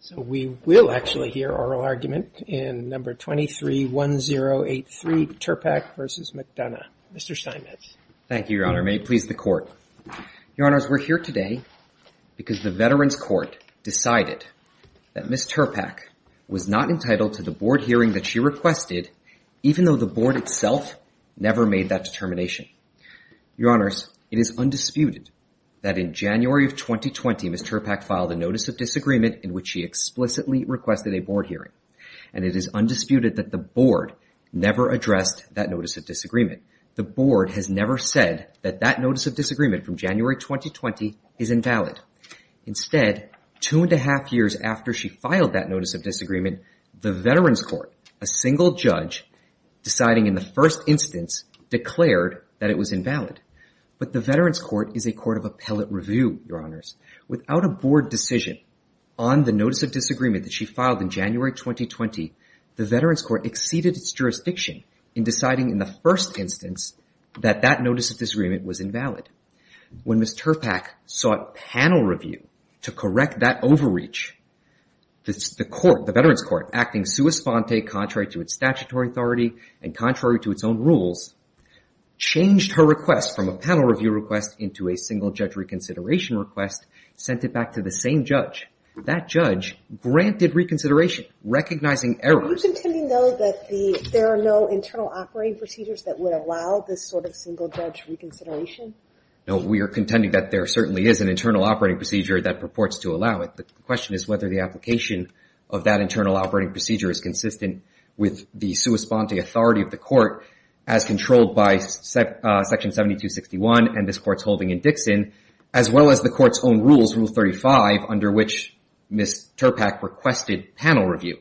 So we will actually hear oral argument in number 231083 Turpak v. McDonough. Mr. Simons. Thank you, Your Honor. May it please the Court. Your Honors, we're here today because the Veterans Court decided that Ms. Turpak was not entitled to the board hearing that she requested, even though the board itself never made that determination. Your Honors, it is undisputed that in January of 2020, Ms. Turpak filed a notice of disagreement in which she explicitly requested a board hearing, and it is undisputed that the board never addressed that notice of disagreement. The board has never said that that notice of disagreement from January 2020 is invalid. Instead, two and a half years after she filed that notice of disagreement, the Veterans Court, a single judge deciding in the first instance, declared that it was invalid. But the Veterans Court is a court of appellate review, Your Honors. Without a board decision on the notice of disagreement that she filed in January 2020, the Veterans Court exceeded its jurisdiction in deciding in the first instance that that notice of disagreement was invalid. When Ms. Turpak sought panel review to correct that overreach, the court, the Veterans Court, acting sua sponte, contrary to its statutory authority and contrary to its own rules, changed her request from a panel review request into a single judge reconsideration request, sent it back to the same judge. That judge granted reconsideration, recognizing errors. Are you contending, though, that there are no internal operating procedures that would allow this sort of single judge reconsideration? No, we are contending that there certainly is an internal operating procedure that purports to allow it. The question is whether the application of that internal operating procedure is consistent with the sua sponte authority of the court as controlled by Section 7261 and this Court's holding in Dixon, as well as the Court's own rules, Rule 35, under which Ms. Turpak requested panel review.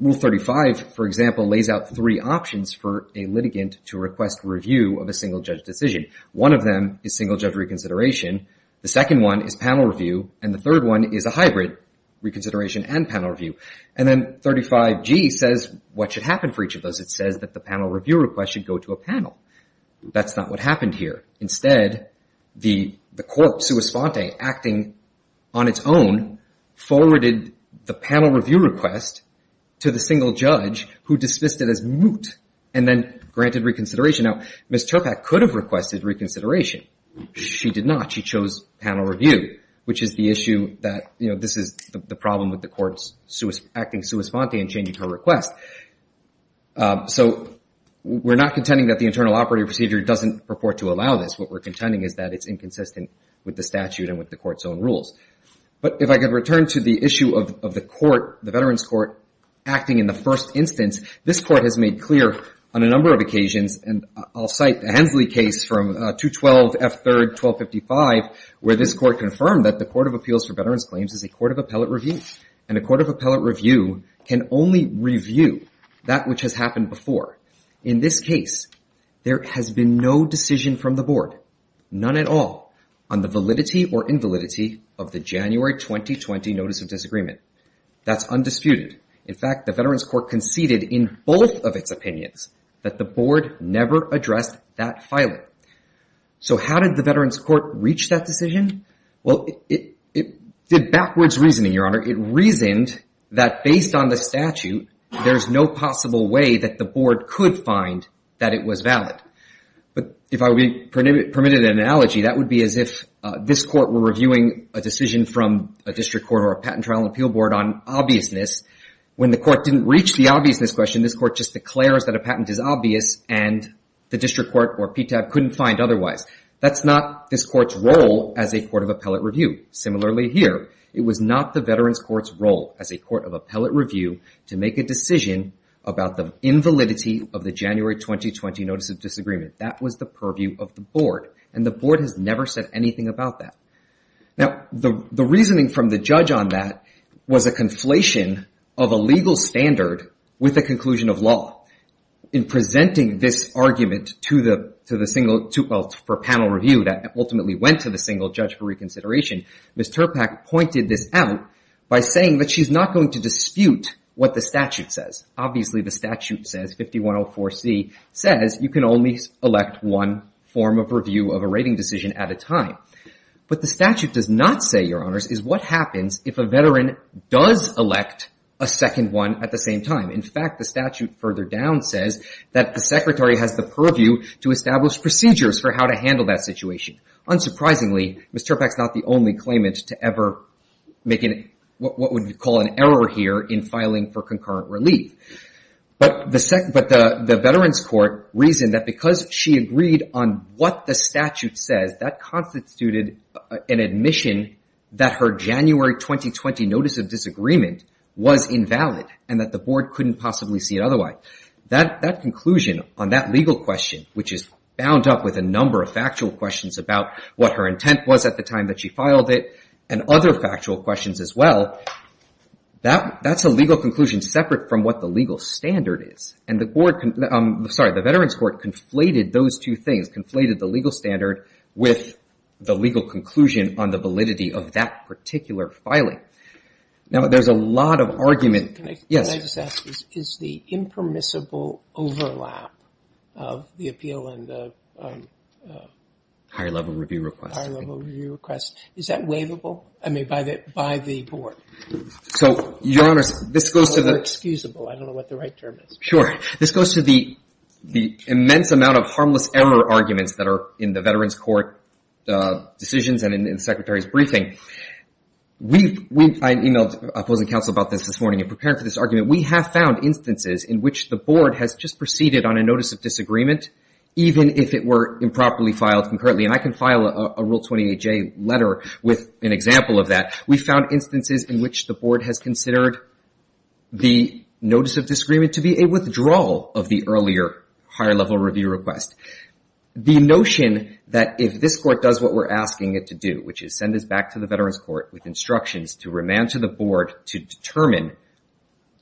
Rule 35, for example, lays out three options for a litigant to request review of a single judge decision. One of them is single judge reconsideration. The second one is panel review. And the third one is a hybrid, reconsideration and panel review. And then 35G says what should happen for each of those. It says that the panel review request should go to a panel. That's not what happened here. Instead, the court sua sponte acting on its own forwarded the panel review request to the single judge who dismissed it as moot and then granted reconsideration. Now, Ms. Turpak could have requested reconsideration. She did not. She chose panel review, which is the issue that, you know, this is the problem with the Court's acting sua sponte and changing her request. So we're not contending that the internal operative procedure doesn't purport to allow this. What we're contending is that it's inconsistent with the statute and with the Court's own rules. But if I could return to the issue of the Court, the Veterans Court, acting in the first instance, this Court has made clear on a number of occasions, and I'll cite the Hensley case from 212 F. 3rd, 1255, where this a court of appellate review can only review that which has happened before. In this case, there has been no decision from the Board, none at all, on the validity or invalidity of the January 2020 Notice of Disagreement. That's undisputed. In fact, the Veterans Court conceded in both of its opinions that the Board never addressed that filing. So how did the Veterans Court reason that based on the statute, there's no possible way that the Board could find that it was valid? But if I would permit an analogy, that would be as if this Court were reviewing a decision from a District Court or a Patent Trial and Appeal Board on obviousness. When the Court didn't reach the obviousness question, this Court just declares that a patent is obvious, and the District Court or PTAB couldn't find otherwise. That's not this Court's role as a Veterans Court's role as a court of appellate review to make a decision about the invalidity of the January 2020 Notice of Disagreement. That was the purview of the Board, and the Board has never said anything about that. Now, the reasoning from the judge on that was a conflation of a legal standard with the conclusion of law. In presenting this argument to the single panel review that by saying that she's not going to dispute what the statute says. Obviously, the statute says, 5104C, says you can only elect one form of review of a rating decision at a time. What the statute does not say, Your Honors, is what happens if a veteran does elect a second one at the same time. In fact, the statute further down says that the Secretary has the purview to establish procedures for how to handle that situation. Unsurprisingly, Ms. Turpac's not the only claimant to ever make what would be called an error here in filing for concurrent relief. The Veterans Court reasoned that because she agreed on what the statute says, that constituted an admission that her January 2020 Notice of Disagreement was invalid and that the Board couldn't possibly see it otherwise. That conclusion on that legal question, which is bound up with a number of factual questions about what her intent was at the time that she filed it and other factual questions as well, that's a legal conclusion separate from what the legal standard is. The Veterans Court conflated those two things, conflated the legal standard with the legal conclusion on the validity of that particular filing. Now, there's a lot of argument. Can I just ask, is the impermissible overlap of the appeal and the higher level review request, is that waivable by the Board? So, Your Honors, this goes to the... Or excusable, I don't know what the right term is. Sure. This goes to the immense amount of harmless error arguments that are in the Veterans Court decisions and in the Secretary's briefing. I emailed opposing counsel about this this morning preparing for this argument. We have found instances in which the Board has just proceeded on a Notice of Disagreement, even if it were improperly filed concurrently. And I can file a Rule 28J letter with an example of that. We found instances in which the Board has considered the Notice of Disagreement to be a withdrawal of the earlier higher level review request. The notion that if this Court does what we're asking it to do, which is send this back to the Veterans Court with instructions to remand to the Board to determine,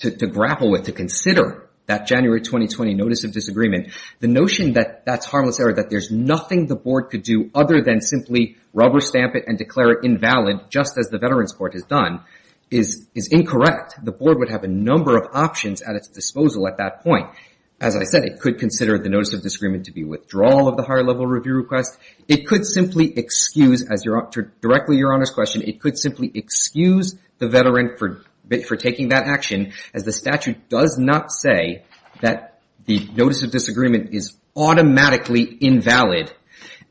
to grapple with, to consider that January 2020 Notice of Disagreement, the notion that that's harmless error, that there's nothing the Board could do other than simply rubber stamp it and declare it invalid, just as the Veterans Court has done, is incorrect. The Board would have a number of options at its disposal at that point. As I said, it could consider the Notice of Disagreement to be withdrawal of the higher level review request. It could simply excuse, as you're... It could simply excuse the Veteran for taking that action, as the statute does not say that the Notice of Disagreement is automatically invalid.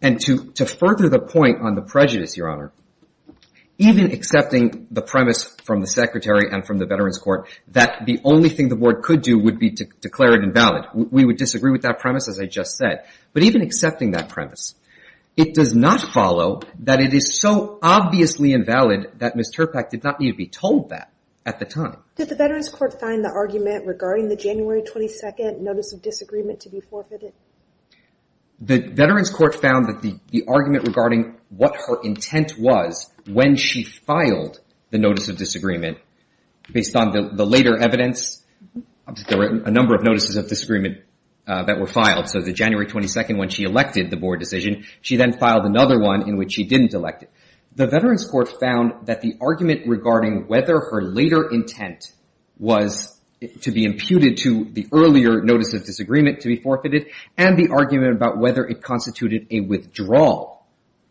And to further the point on the prejudice, Your Honor, even accepting the premise from the Secretary and from the Veterans Court that the only thing the Board could do would be to declare it invalid. We would disagree with that premise, as I just said. But even accepting that premise, it does not follow that it is so obviously invalid that Ms. Terpak did not need to be told that at the time. Did the Veterans Court find the argument regarding the January 22 Notice of Disagreement to be forfeited? The Veterans Court found that the argument regarding what her intent was when she filed the Notice of Disagreement, based on the later evidence, there were a number of Notices of Disagreement that were filed. So the January 22, when she elected the Board decision, she then filed another one in which she didn't elect it. The Veterans Court found that the argument regarding whether her later intent was to be imputed to the earlier Notice of Disagreement to be forfeited and the argument about whether it constituted a withdrawal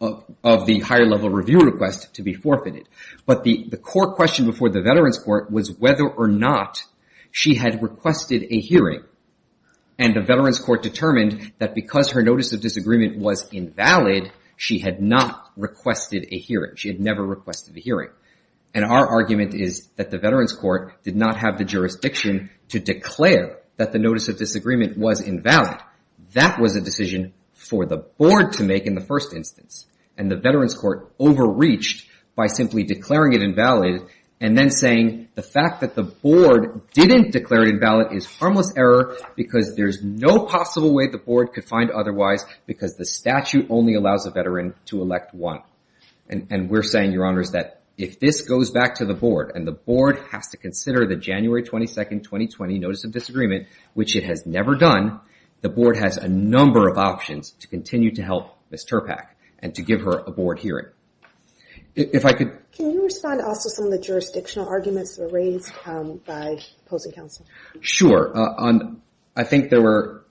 of the higher-level review request to be forfeited. But the core question before the Veterans Court was whether or not she had requested a hearing. And the Veterans Court determined that because her Notice of Disagreement was invalid, she had not requested a hearing. She had never requested a hearing. And our argument is that the Veterans Court did not have the jurisdiction to declare that the Notice of Disagreement was invalid. That was a decision for the Board to make in the first instance. And the Veterans Court overreached by simply declaring it invalid and then saying the fact that the Board didn't declare it invalid is harmless error because there's no possible way the Board could find otherwise because the statute only allows a Veteran to elect one. And we're saying, Your Honors, that if this goes back to the Board and the Board has to consider the January 22, 2020 Notice of Disagreement, which it has never done, the Board has a number of options to continue to help Ms. Terpak and to give her a Board hearing. If I could... Can you respond also to some of the jurisdictional arguments that were raised by opposing counsel? Sure. I think there were...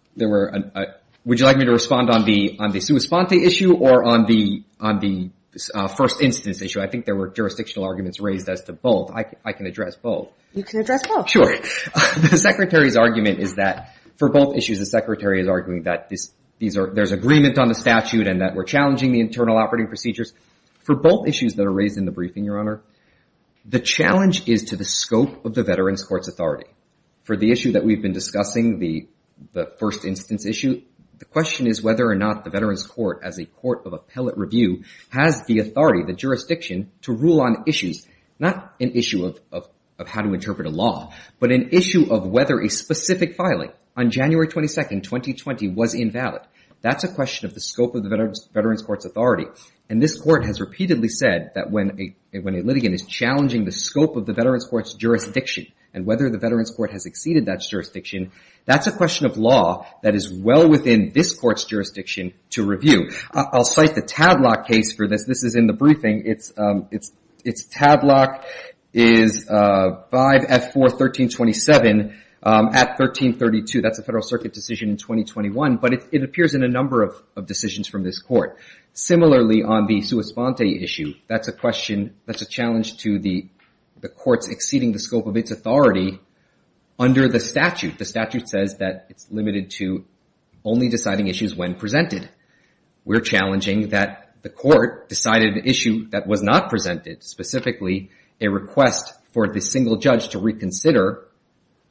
Would you like me to respond on the sui sponte issue or on the first instance issue? I think there were jurisdictional arguments raised as to both. I can address both. You can address both. Sure. The Secretary's argument is that for both issues, the Secretary is arguing that there's agreement on the statute and that we're challenging the internal operating procedures. For both issues that are raised in the briefing, Your Honor, the challenge is to the scope of the Veterans Court's authority. For the issue that we've been discussing, the first instance issue, the question is whether or not the Veterans Court, as a court of appellate review, has the authority, the jurisdiction to rule on issues, not an issue of how to interpret a law, but an issue of whether a specific filing on January 22, 2020 was invalid. That's a question of the scope of the Veterans Court's authority. This court has repeatedly said that when a litigant is challenging the scope of the Veterans Court's jurisdiction and whether the Veterans Court has exceeded that jurisdiction, that's a question of law that is well within this court's jurisdiction to review. I'll cite the Tadlock case for this. This is in the briefing. It's Tadlock is 5F4-1327 at 1332. That's a Federal of decisions from this court. Similarly, on the sua sponte issue, that's a question, that's a challenge to the court's exceeding the scope of its authority under the statute. The statute says that it's limited to only deciding issues when presented. We're challenging that the court decided an issue that was not presented, specifically a request for the single judge to reconsider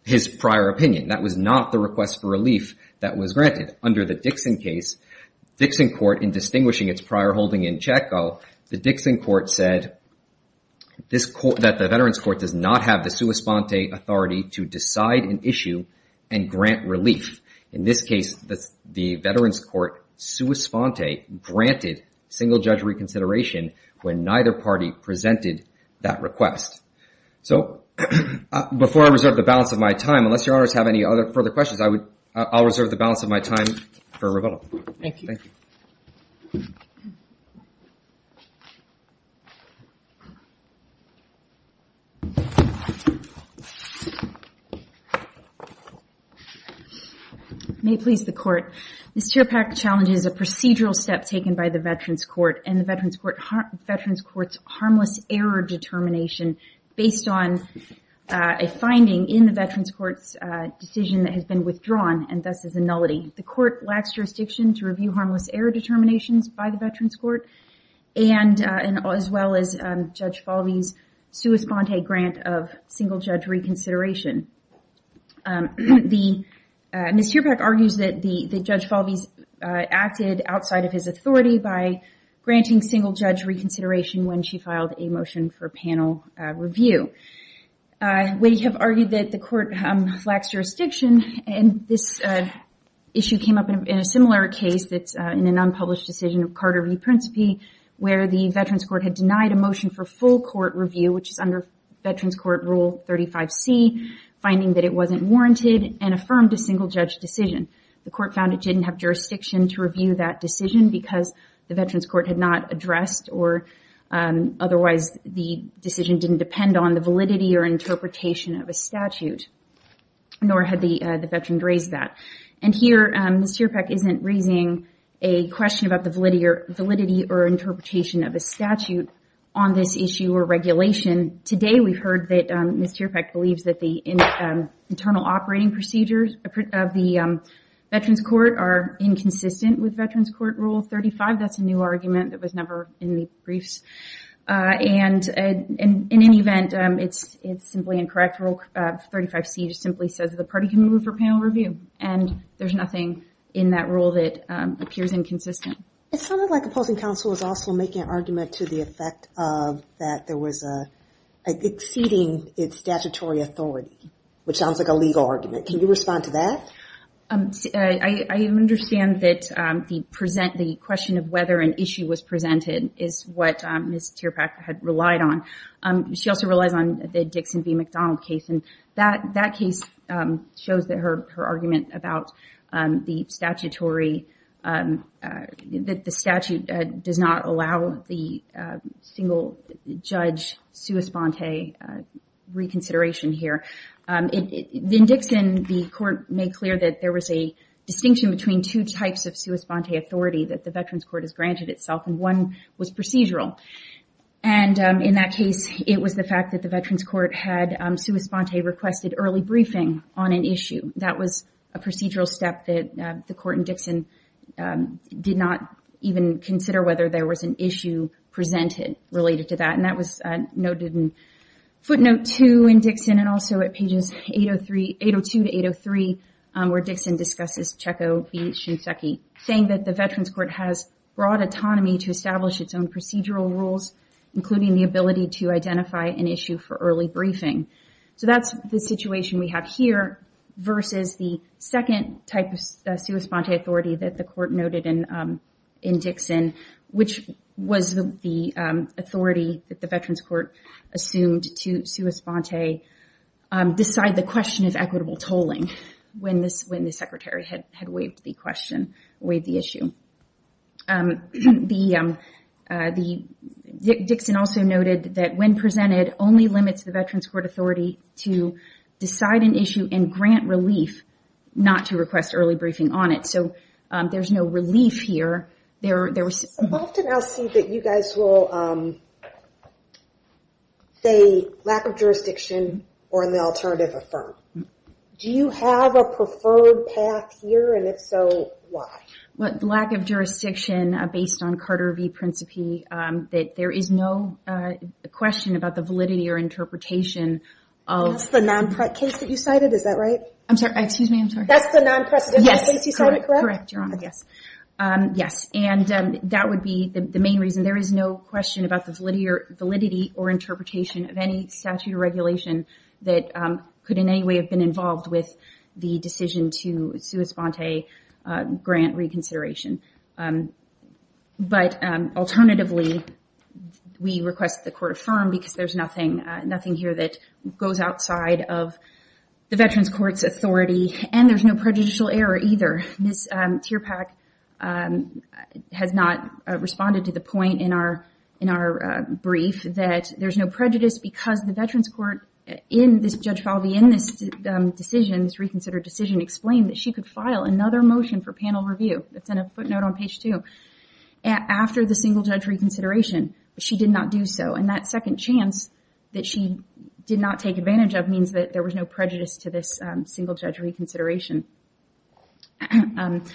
his prior opinion. That was not the request for relief that was granted. Under the Dixon case, Dixon court in distinguishing its prior holding in Chaco, the Dixon court said that the Veterans Court does not have the sua sponte authority to decide an issue and grant relief. In this case, the Veterans Court sua sponte granted single judge reconsideration when neither party presented that request. Before I reserve the balance of my time, unless your honors have any other further questions, I'll reserve the balance of my time for rebuttal. Thank you. May it please the court. This tear pack challenge is a procedural step taken by the Veterans Court and the Veterans Court's harmless error determination based on a finding in the decision that has been withdrawn and thus is a nullity. The court lacks jurisdiction to review harmless error determinations by the Veterans Court and as well as Judge Falvey's sua sponte grant of single judge reconsideration. Ms. Tear Pack argues that Judge Falvey acted outside of his authority by granting single judge reconsideration when she filed a motion for panel review. We have argued that the court lacks jurisdiction and this issue came up in a similar case that's in an unpublished decision of Carter v. Principe, where the Veterans Court had denied a motion for full court review, which is under Veterans Court Rule 35C, finding that it wasn't warranted and affirmed a single judge decision. The court found it didn't have jurisdiction to review that decision because the Veterans Court had not addressed or otherwise the decision didn't depend on the validity or interpretation of a statute, nor had the Veterans raised that. And here Ms. Tear Pack isn't raising a question about the validity or interpretation of a statute on this issue or regulation. Today we've heard that Ms. Tear Pack believes that the internal operating procedures of the Veterans Court are inconsistent with Veterans Court Rule 35. That's a new argument that was never in the briefs. And in any event, it's simply incorrect. Rule 35C just simply says the party can move for panel review and there's nothing in that rule that appears inconsistent. It sounded like opposing counsel is also making an argument to the effect of that there was a exceeding its statutory authority, which sounds like a legal argument. Can you respond to that? I understand that the question of whether an issue was presented is what Ms. Tear Pack had relied on. She also relies on the Dixon v. McDonald case and that case shows that her argument about the statutory, that the statute does not allow the single judge sua sponte reconsideration here. In Dixon, the court made clear that there was a distinction between two types of sua sponte authority that the Veterans Court has granted itself and one was procedural. And in that case, it was the fact that the Veterans Court had sua sponte requested early briefing on an issue. That was a procedural step that the court in Dixon did not even consider whether there was an issue presented related to that. And that was noted in footnote two in Dixon and also at pages 802 to 803, where Dixon discusses Checco v. Shinseki, saying that the Veterans Court has broad autonomy to establish its own procedural rules, including the ability to identify an issue for early briefing. So that's the situation we have here versus the second type sua sponte authority that the court noted in Dixon, which was the authority that the Veterans Court assumed to sua sponte decide the question of equitable tolling when the Secretary had waived the issue. Dixon also noted that when presented, only limits the Veterans Court authority to decide an issue and grant relief not to request early briefing on it. So there's no relief here. Often I'll see that you guys will say lack of jurisdiction or an alternative affirm. Do you have a preferred path here? And if so, why? Lack of jurisdiction based on Carter v. Principi, that there is no question about the non-precedent case that you cited, is that right? I'm sorry, excuse me, I'm sorry. That's the non-precedent case you cited, correct? Correct, Your Honor, yes. And that would be the main reason. There is no question about the validity or interpretation of any statute or regulation that could in any way have been involved with the decision to sua sponte grant reconsideration. But alternatively, we request the court affirm because there's nothing here that goes outside of the Veterans Court's authority. And there's no prejudicial error either. Ms. Tierpach has not responded to the point in our brief that there's no prejudice because the Veterans Court in this Judge Falvey, in this decision, this reconsidered decision, explained that she could file another motion for panel review. That's in a footnote on page two. After the single judge reconsideration, she did not do so. And that second chance that she did not take advantage of means that there was no prejudice to this single judge reconsideration. And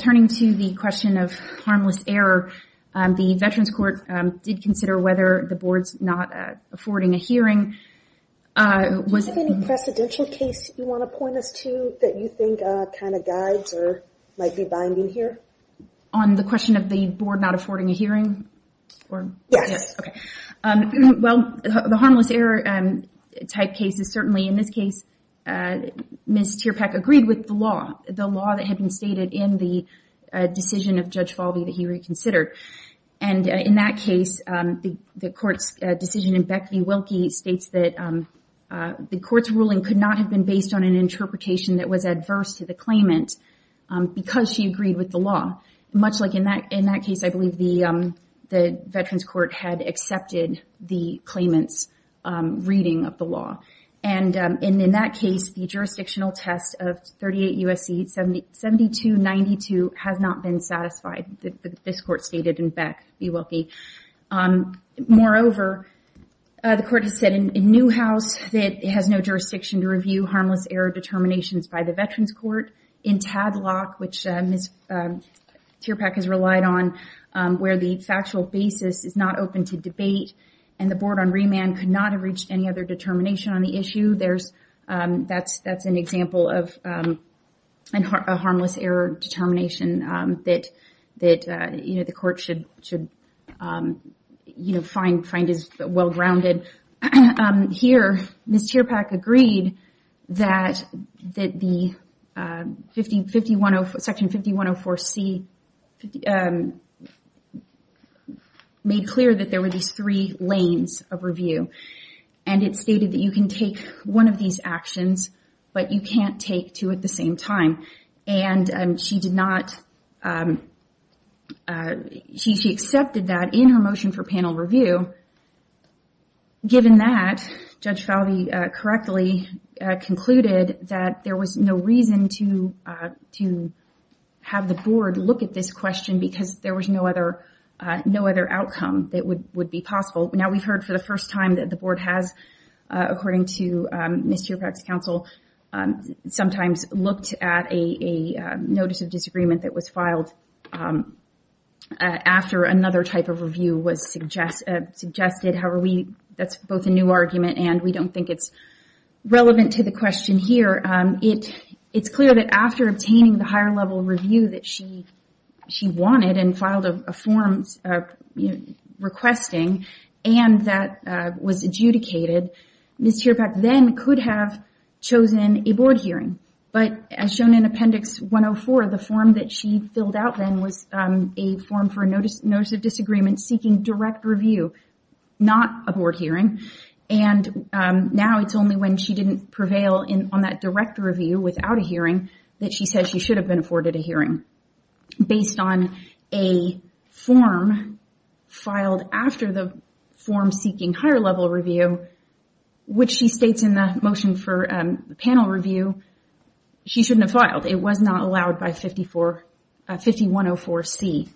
turning to the question of harmless error, the Veterans Court did consider whether the board's not affording a hearing. Do you have any precedential case you want to point us to that you think kind of guides or might be binding here? On the question of the board not affording a hearing? Yes. Okay. Well, the harmless error type cases, certainly in this case, Ms. Tierpach agreed with the law, the law that had been stated in the decision of Judge Falvey that he reconsidered. And in that case, the court's decision in Beck v. Wilkie states that the court's ruling could not have been based on an interpretation that was adverse to the claimant because she agreed with the law. Much like in that case, I believe the Veterans Court had accepted the claimant's reading of the law. And in that case, the jurisdictional test of 38 U.S.C. 72-92 has not been satisfied. This court stated in Beck v. Wilkie. Moreover, the court has said in Newhouse that it has no jurisdiction to review harmless error determinations by the Veterans Court. In Tadlock, which Ms. Tierpach has relied on, where the factual basis is not open to debate and the board on remand could not have reached any other determination on the issue, that's an example of a harmless error determination that the court should find as well-grounded. Here, Ms. Tierpach agreed that Section 5104C made clear that there were these three lanes of review. And it stated that you can take one of these actions, but you can't take two at the same time. And she accepted that in her motion for panel review. Given that, Judge Falvey correctly concluded that there was no reason to have the board look at this question because there was no other outcome that would be possible. Now, we've heard for the first time that the board has, according to Ms. Tierpach's counsel, sometimes looked at a notice of disagreement that was filed after another type of review was suggested. However, that's both a new argument and we don't think it's relevant to the question here. It's clear that after obtaining the higher level review that she wanted and filed a form requesting and that was adjudicated, Ms. Tierpach then could have chosen a board hearing. But as shown in Appendix 104, the form that she filled out then was a form for a notice of disagreement seeking direct review, not a board hearing. And now it's only when she didn't prevail on that direct review without a hearing that she said she should have been afforded a hearing. Based on a form filed after the form seeking higher level review, which she states in the motion for panel review, she shouldn't have filed. It was not allowed by 5104C.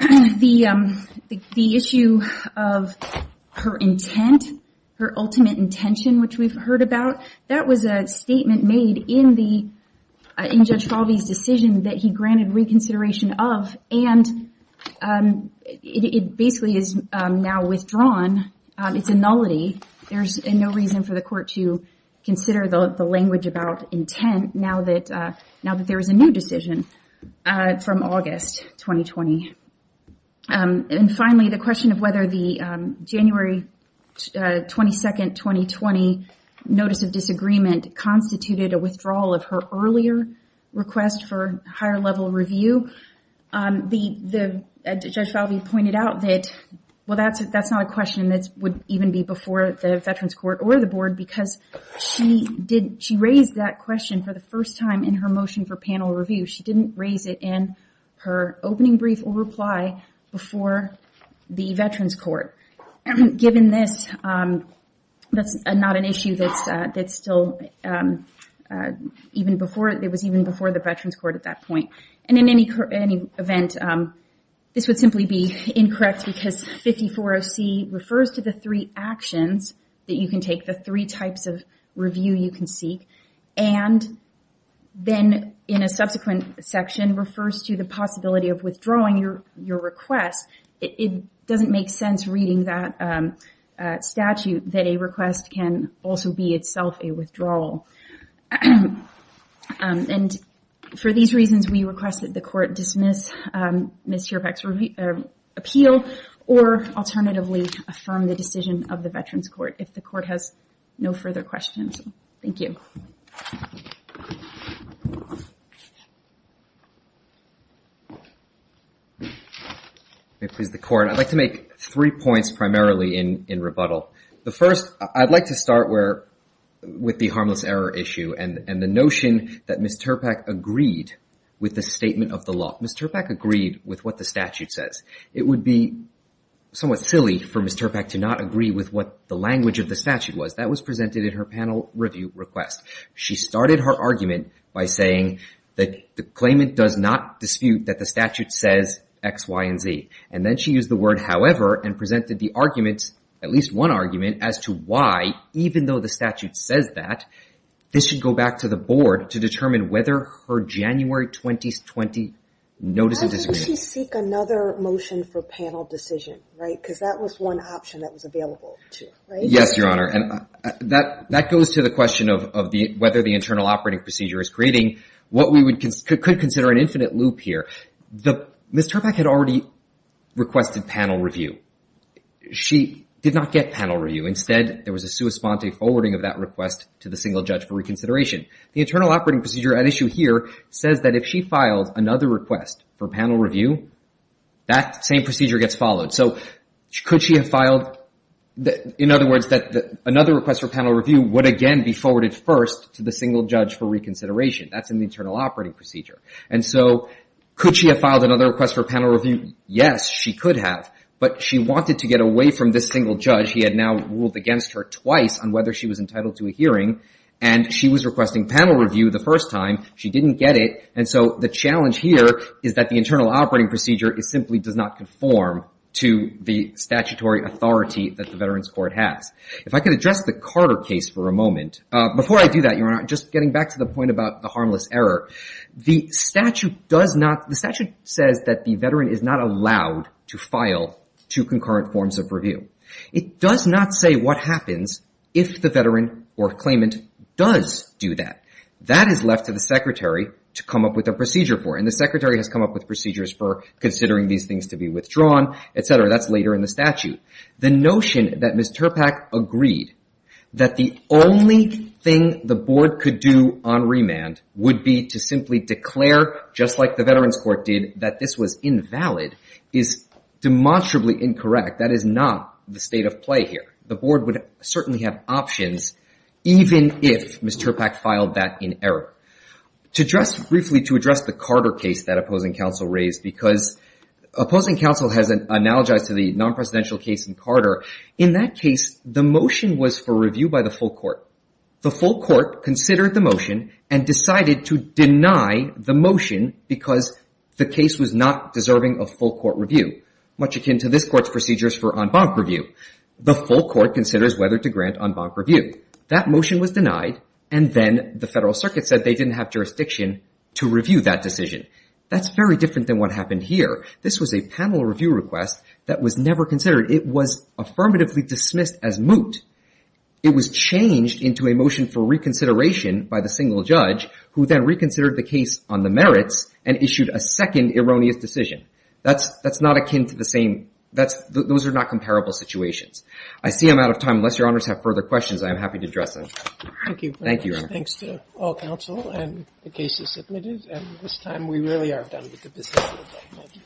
And the issue of her intent, her ultimate intention, which we've heard about, that was a statement made in Judge Falvey's decision that he granted reconsideration of and it basically is now withdrawn. It's a nullity. There's no reason for the court to consider the language about intent now that there was a new decision from August. 2020. And finally, the question of whether the January 22nd, 2020 notice of disagreement constituted a withdrawal of her earlier request for higher level review. Judge Falvey pointed out that, well, that's not a question that would even be before the Veterans Court or the board because she raised that question for the first time in her motion for panel review. She didn't raise it in her opening brief or reply before the Veterans Court. Given this, that's not an issue that's still even before it was even before the Veterans Court at that point. And in any event, this would simply be incorrect because 540C refers to the three actions that you can take, the three types of review you can seek, and then in a subsequent section refers to the possibility of withdrawing your request. It doesn't make sense reading that statute that a request can also be itself a withdrawal. And for these reasons, we request that the court dismiss Ms. Chirpak's appeal or alternatively affirm the decision of the Veterans Court if the court has no further questions. Thank you. The court, I'd like to make three points primarily in rebuttal. The first, I'd like to start where with the harmless error issue and the notion that Ms. Chirpak agreed with the statement of the law. Ms. Chirpak agreed with what the statute says. It would be somewhat silly for Ms. Chirpak to not agree with what the language of the statute was. That was presented in her panel review request. She started her argument by saying that the claimant does not dispute that the statute says X, Y, and Z. And then she used the word however and presented the arguments, at least one argument, as to why even though the statute says that, this should go back to the board to determine whether her January 2020 notice of disagreement. Why didn't she seek another motion for panel decision, right? Because that was one option that was available to her, right? Yes, Your Honor. And that goes to the question of whether the internal operating procedure is creating what we could consider an infinite loop here. Ms. Chirpak had already requested panel review. She did not get panel review. Instead, there was a sua sponte forwarding of that request to the single judge for reconsideration. The internal operating procedure at issue here says that if she filed another request for panel review, that same procedure gets followed. So could she have filed, in other words, that another request for panel review would again be forwarded first to the single judge for reconsideration. That's an internal operating procedure. And so could she have filed another request for panel review? Yes, she could have. But she wanted to get away from this single judge. He had now ruled against her twice on whether she was entitled to a hearing. And she was requesting panel review the first time. She didn't get it. And so the challenge here is that the internal operating procedure simply does not conform to the statutory authority that the Veterans Court has. If I could address the Carter case for a moment. Before I do that, Your Honor, just getting back to the point about the harmless error. The statute does not, the statute says that the veteran is not to file two concurrent forms of review. It does not say what happens if the veteran or claimant does do that. That is left to the secretary to come up with a procedure for. And the secretary has come up with procedures for considering these things to be withdrawn, et cetera. That's later in the statute. The notion that Ms. Terpak agreed that the only thing the board could do on remand would be to simply declare, just like the Veterans Court did, that this was invalid, is demonstrably incorrect. That is not the state of play here. The board would certainly have options, even if Ms. Terpak filed that in error. To address briefly, to address the Carter case that opposing counsel raised, because opposing counsel has analogized to the non-presidential case in Carter. In that case, the motion was for review by the full court. The full court considered the motion and decided to deny the motion because the case was not deserving of full court review, much akin to this court's procedures for en banc review. The full court considers whether to grant en banc review. That motion was denied, and then the federal circuit said they didn't have jurisdiction to review that decision. That's very different than what happened here. This was a panel review request that was never considered. It was affirmatively for reconsideration by the single judge, who then reconsidered the case on the merits and issued a second erroneous decision. That's not akin to the same. Those are not comparable situations. I see I'm out of time. Unless your honors have further questions, I am happy to address them. Thank you. Thank you, Your Honor. Thanks to all counsel, and the case is submitted. And this time we really are done with the business.